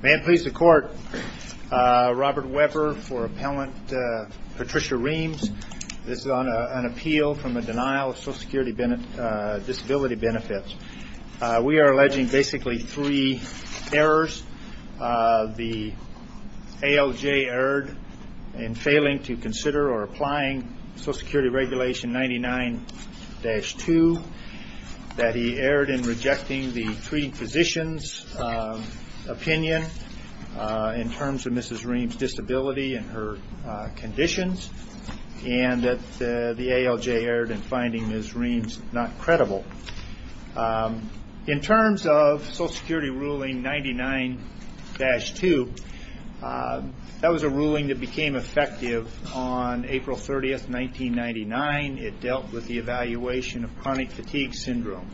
May it please the Court, Robert Weber for Appellant Patricia Reams. This is on an appeal from a denial of Social Security disability benefits. We are alleging basically three errors. The ALJ erred in failing to consider or applying Social Security Regulation 99-2. That he erred in rejecting the treating physician's opinion in terms of Mrs. Reams disability and her conditions. And that the ALJ erred in finding Mrs. Reams not credible. In terms of Social Security Ruling 99-2, that was a ruling that became effective on April 30th, 1999. It dealt with the evaluation of chronic fatigue syndrome.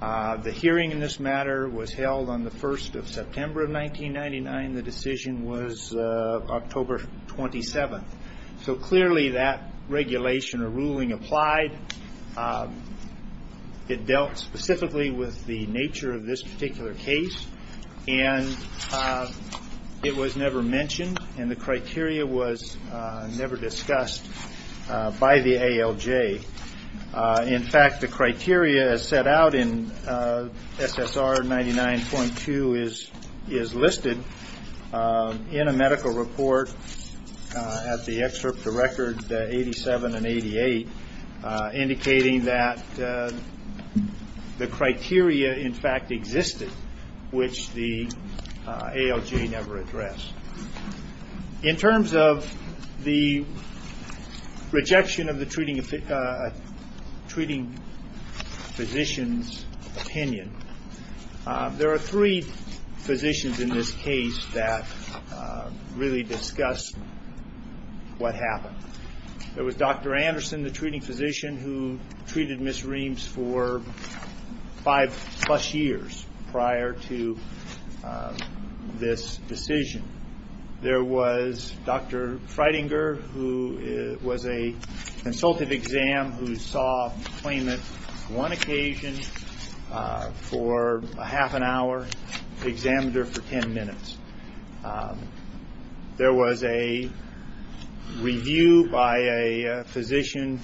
The hearing in this matter was held on the 1st of September of 1999. The decision was October 27th. Clearly that regulation or ruling applied. It dealt specifically with the nature of this particular case. It was never mentioned and the criteria was never discussed by the ALJ. In fact, the criteria as set out in SSR 99.2 is listed in a medical report at the excerpt of record 87 and 88 indicating that the criteria in fact existed which the ALJ never addressed. In terms of the rejection of the treating physician's opinion, there are three physicians in this case that really discussed what happened. There was Dr. Anderson, the treating physician who treated Mrs. Reams for five plus years prior to this decision. There was Dr. Freidinger who was a consultative exam who saw the claimant on one occasion for half an hour, the examiner for ten minutes. There was a review by a physician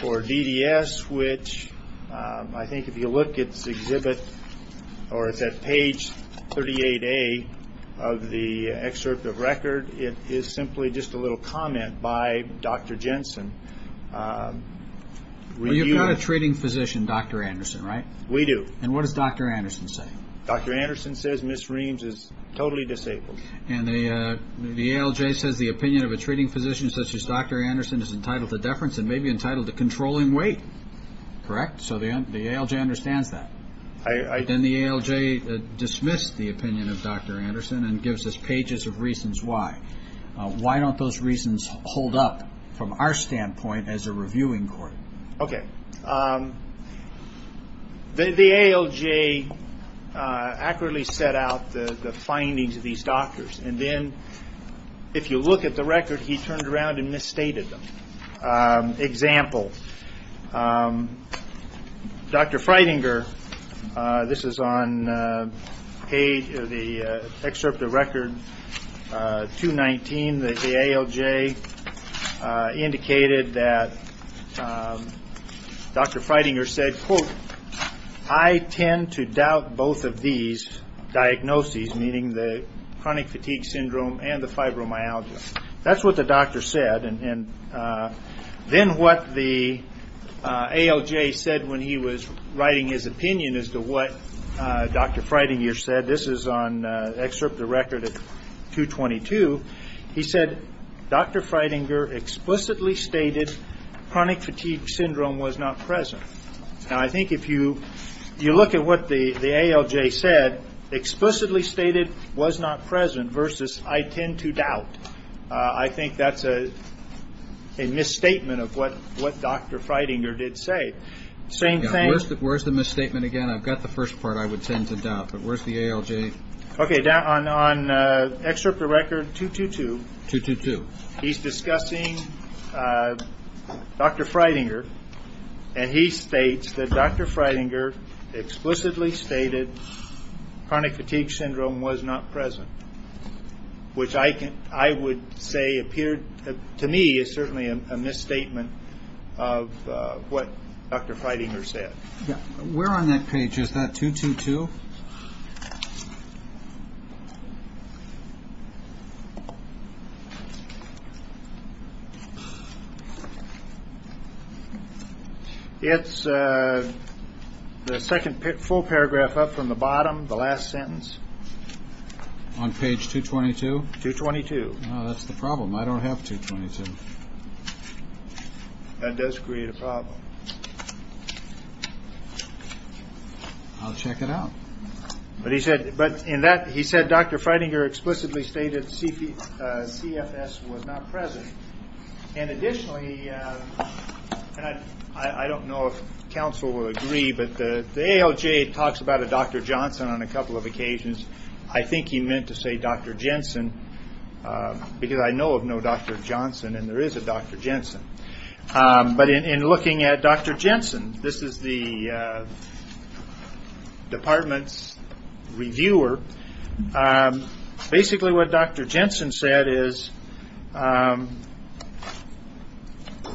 for DDS which I think if you look at this exhibit or it's at page 38A of the excerpt of record, it is simply just a little comment by Dr. Jensen. You've got a treating physician, Dr. Anderson, right? We do. What does Dr. Anderson say? Dr. Anderson says Mrs. Reams is totally disabled. The ALJ says the opinion of a treating physician such as Dr. Anderson is entitled to deference and may be entitled to controlling weight, correct? So the ALJ understands that. I Then the ALJ dismissed the opinion of Dr. Anderson and gives us pages of reasons why. Why don't those reasons hold up from our standpoint as a reviewing court? Okay. The ALJ accurately set out the findings of these doctors and then if you look at the record he turned around and misstated them. Example, Dr. Freidinger, this is on the excerpt of record 219 that the ALJ indicated that Dr. Freidinger said, quote, I tend to doubt both of these diagnoses, meaning the chronic fatigue syndrome and the fibromyalgia. That's what the doctor said. Then what the ALJ said when he was writing his opinion as to what Dr. Freidinger said, this is on excerpt of record at 222, he said Dr. Freidinger explicitly stated chronic fatigue syndrome was not present. Now I think if you look at what the ALJ said, explicitly stated was not present versus I tend to doubt, I think that's a misstatement of what Dr. Freidinger did say. Where's the misstatement again? I've got the first part, I would tend to doubt, but where's the ALJ? Okay, on excerpt of record 222, he's discussing Dr. Freidinger and he states that Dr. Freidinger explicitly stated chronic fatigue syndrome was not present, which I would say to me is certainly a misstatement of what Dr. Freidinger said. Where on that page is that 222? It's the second full paragraph up from the bottom, the last sentence. On page 222? 222. That's the problem. I don't have 222. That does create a problem. I'll check it out. But he said Dr. Freidinger explicitly stated CFS was not present. And additionally, I don't know if counsel will agree, but the ALJ talks about a Dr. Johnson on a couple of occasions. I think he meant to say Dr. Jensen, because I know of no Dr. Johnson and there is a Dr. Jensen. But in looking at Dr. Jensen, this is the department's reviewer. Basically what Dr. Jensen said was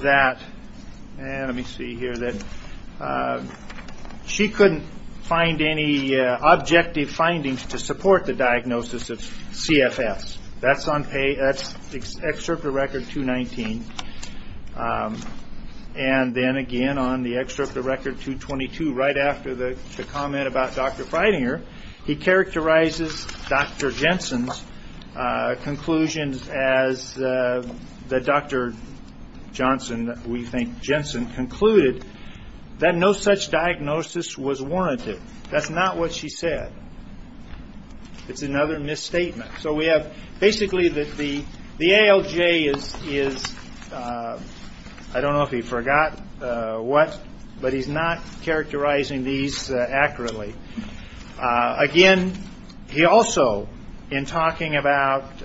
that no such diagnosis was warranted. That's not what she said. And then again on the excerpt of record 222, right after the comment about Dr. Freidinger, he characterizes Dr. Jensen's conclusions as the Dr. Johnson, we think Jensen, concluded that no such diagnosis was warranted. That's not what she said. It's another misstatement. So we have basically that the ALJ is, I don't know if he forgot what, but he's not characterizing these accurately. Again, he also, in talking about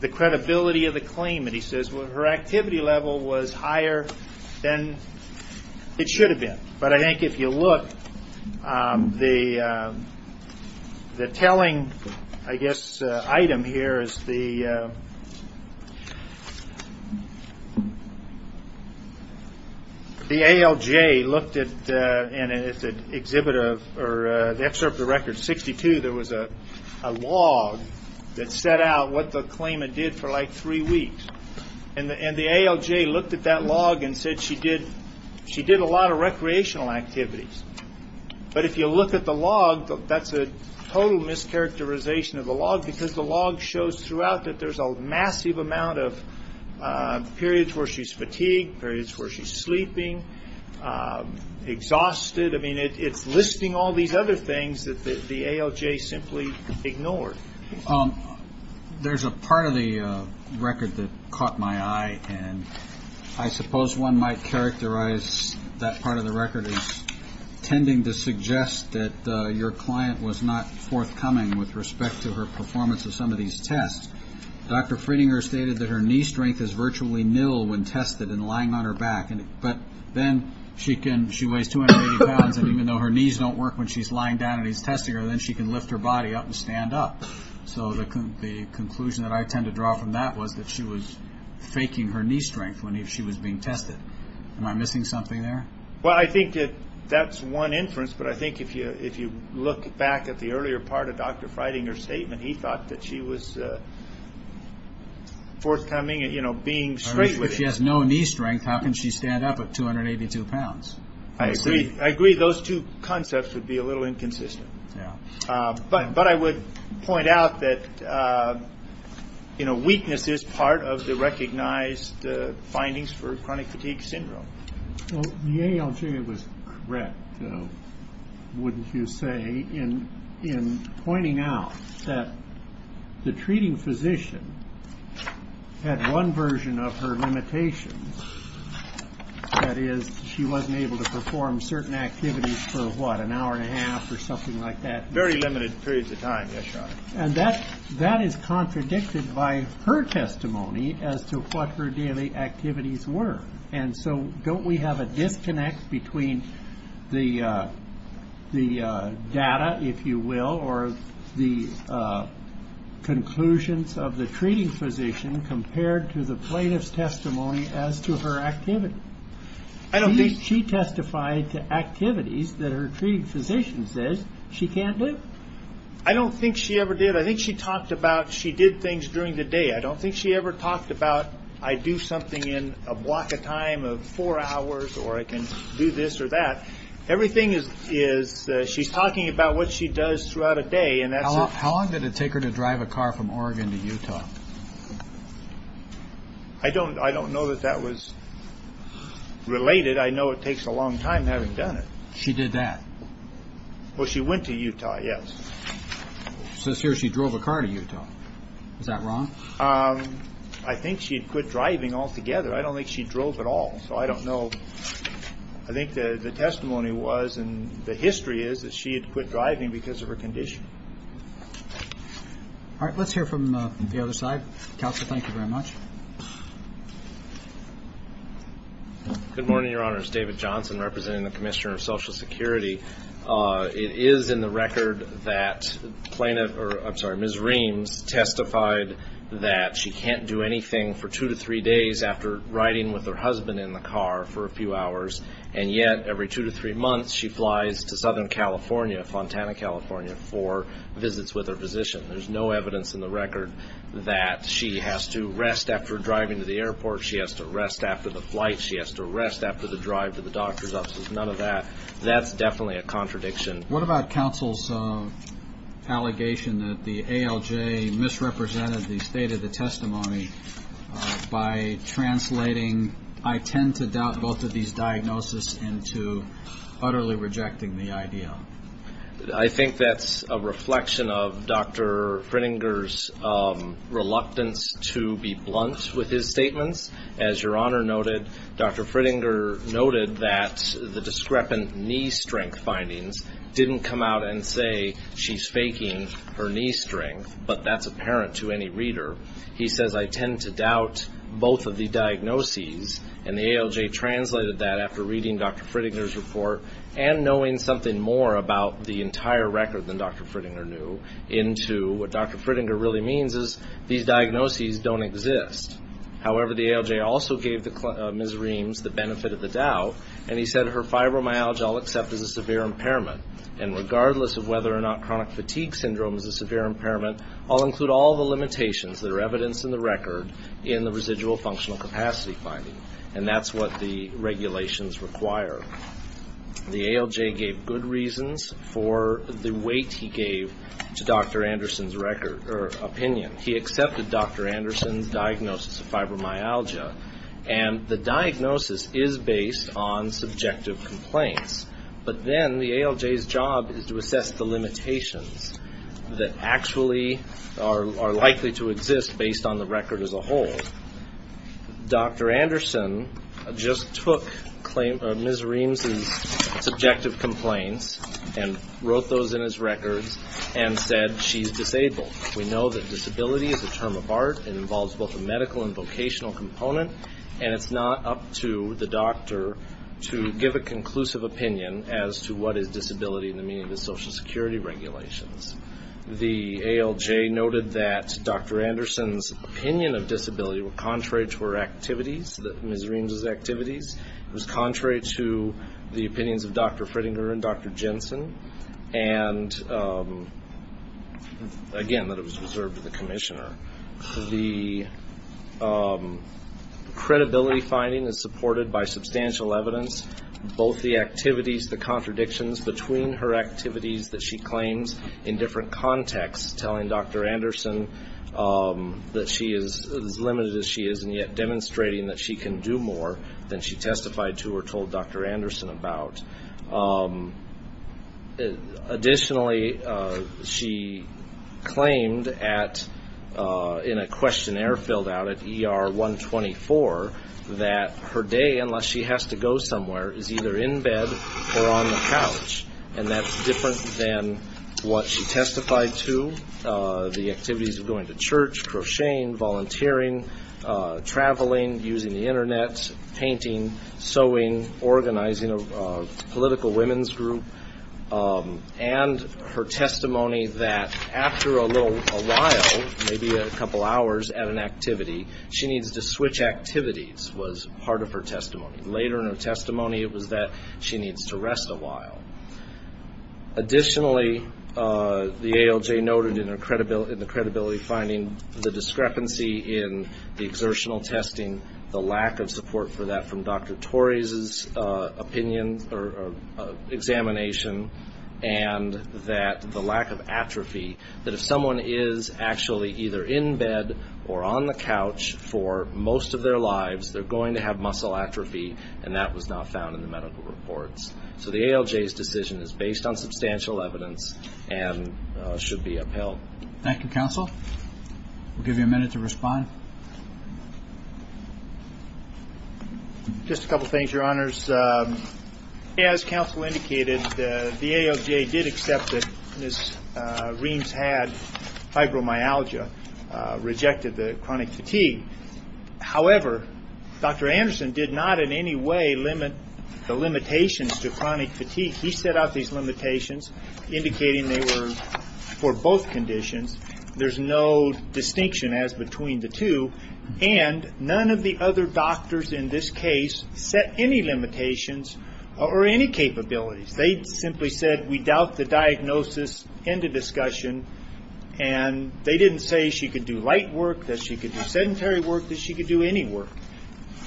the credibility of the claimant, he says her activity level was higher than it should have been. But I think if you look, the telling item here is the ALJ looked at, in the excerpt of record 62, there was a log that set out what the ALJ looked at that log and said she did a lot of recreational activities. But if you look at the log, that's a total mischaracterization of the log because the log shows throughout that there's a massive amount of periods where she's fatigued, periods where she's sleeping, exhausted. I mean, it's listing all these other things that the ALJ simply ignored. There's a part of the record that caught my eye, and I suppose one might characterize that part of the record as tending to suggest that your client was not forthcoming with respect to her performance of some of these tests. Dr. Friedinger stated that her knee strength is virtually nil when tested and lying on her back. But then she weighs 280 pounds, and even though her knees don't work when she's lying down and he's testing her, then she can lift her body up and stand up. So the conclusion that I tend to draw from that was that she was faking her knee strength when she was being tested. Am I missing something there? Well, I think that that's one inference, but I think if you look back at the earlier part of Dr. Friedinger's statement, he thought that she was forthcoming and being straight with it. If she has no knee strength, how can she stand up at 282 pounds? I agree those two concepts would be a little inconsistent. But I would point out that weakness is part of the recognized findings for chronic fatigue syndrome. The ALJ was correct, though, wouldn't you say, in pointing out that the treating physician had one version of her limitations? That is, she wasn't able to perform certain activities for, what, an hour and a half or something like that? Very limited periods of time, yes, Your Honor. And that is contradicted by her testimony as to what her daily activities were. And so don't we have a disconnect between the data, if you will, or the conclusions of the treating physician compared to the plaintiff's testimony as to her activity? She testified to activities that her treating physician says she can't do. I don't think she ever did. I think she talked about she did things during the day. I don't think she ever talked about I do something in a block of time of four hours or I can do this or that. Everything is, she's talking about what she does throughout a day and that's How long did it take her to drive a car from Oregon to Utah? I don't know that that was related. I know it takes a long time having done it. She did that? Well, she went to Utah, yes. Says here she drove a car to Utah. Is that wrong? I think she had quit driving altogether. I don't think she drove at all, so I don't know. I think the testimony was, and the history is, that she had quit driving because of her condition. All right, let's hear from the other side. Counselor, thank you very much. Good morning, Your Honors. David Johnson representing the Commissioner of Social Security. It is in the record that Ms. Reams testified that she can't do anything for two to three days after riding with her husband in the car for a few hours, and yet every two to three months she flies to Southern California, Fontana, California, for visits with her physician. There's no evidence in the record that she has to rest after driving to the airport. She has to rest after the flight. She has to rest after the drive to the doctor's office. None of that. That's definitely a contradiction. What about counsel's allegation that the ALJ misrepresented the state of the testimony by translating, I tend to doubt both of these diagnoses, into utterly rejecting the idea? I think that's a reflection of Dr. Frittinger's reluctance to be blunt with his statements. As Your Honor noted, Dr. Frittinger noted that the discrepant knee strength findings didn't come out and say she's faking her knee strength, but that's apparent to any reader. He says, I tend to doubt both of the diagnoses, and the ALJ translated that after reading Dr. Frittinger's report, and knowing something more about the entire record than Dr. Frittinger knew, into what Dr. Frittinger really means is these diagnoses don't exist. However, the ALJ also gave Ms. Reams the benefit of the doubt, and he said, her fibromyalgia I'll accept as a severe impairment, and regardless of whether or not chronic fatigue syndrome is a severe impairment, I'll include all the limitations that are evidenced in the record in the residual functional capacity finding, and that's what the regulations require. The ALJ gave good reasons for the weight he gave to Dr. Anderson's opinion. He accepted Dr. Anderson's diagnosis of fibromyalgia, and the diagnosis is based on subjective complaints, but then the ALJ's job is to assess the limitations that actually are likely to exist based on the record as a whole. Dr. Anderson just took Ms. Reams' subjective complaints and wrote those in his records and said she's disabled. We know that disability is a term of art. It involves both a medical and vocational component, and it's not up to the doctor to give a conclusive opinion as to what is disability in the meaning of the Social Security regulations. The ALJ noted that Dr. Anderson's opinion of disability were contrary to her activities, Ms. Reams' activities. It was contrary to the opinions of Dr. Frittinger and Dr. Jensen, and again, that it was reserved to the commissioner. The credibility finding is supported by substantial evidence, both the activities, the contradictions between her activities that she claims in different contexts, telling Dr. Anderson that she is as limited as she is, and yet demonstrating that she can do more than she testified to or told Dr. Anderson about. Additionally, she claimed at the ALJ that in a questionnaire filled out at ER 124 that her day, unless she has to go somewhere, is either in bed or on the couch, and that's different than what she testified to, the activities of going to church, crocheting, volunteering, traveling, using the Internet, painting, sewing, organizing a political women's group, and her testimony that after a little while, maybe a couple hours at an activity, she needs to switch activities was part of her testimony. Later in her testimony, it was that she needs to rest a while. Additionally, the ALJ noted in the credibility finding the discrepancy in the exertional testing, the lack of support for that from Dr. Torres' opinion or examination, and that the lack of atrophy, that if someone is actually either in bed or on the couch for most of their lives, they're going to have muscle atrophy, and that was not found in the medical reports. So the ALJ's decision is based on substantial evidence and should be upheld. Thank you, Counsel. We'll give you a minute to respond. Just a couple things, Your Honors. As Counsel indicated, the ALJ did accept that Ms. Reams had fibromyalgia, rejected the chronic fatigue. However, Dr. Anderson did not in any way limit the limitations to chronic fatigue. He set out these limitations indicating they were for both conditions. There's no distinction as between the two, and none of the other doctors in this case set any limitations or any capabilities. They simply said, we doubt the diagnosis, end of discussion. They didn't say she could do light work, that she could do sedentary work, that she could do any work.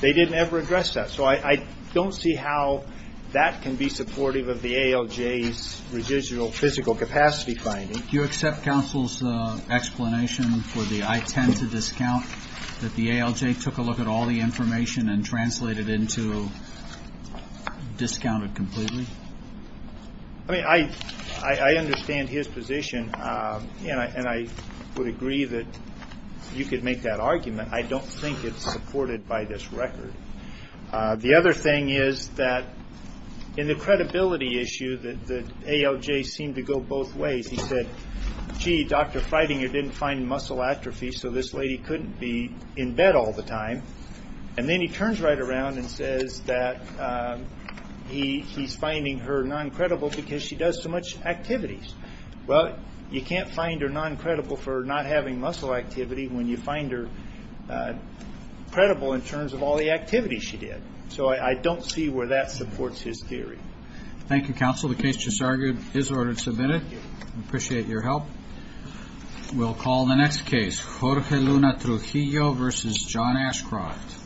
They didn't ever address that. So I don't see how that can be supportive of the ALJ's residual physical capacity finding. Do you accept Counsel's explanation for the I tend to discount, that the ALJ took a look at all the information and translated into discounted completely? I mean, I understand his position, and I would agree that you could make that argument. I don't think it's supported by this record. The other thing is that in the credibility issue, the ALJ seemed to go both ways. He said, gee, Dr. Freidinger didn't find muscle atrophy, so this lady couldn't be in bed all the time. Then he turns right around and says that he's finding her non-credible because she does so much activities. Well, you can't find her non-credible for not having muscle activity when you find her credible in terms of all the activities she did. So I don't see where that supports his theory. Thank you, Counsel. The case just argued is ordered and submitted. We appreciate your help. We'll call the next case, Jorge Luna Trujillo v. John Ashcroft. Page PAGE of NUMPAGES www.verbalink.com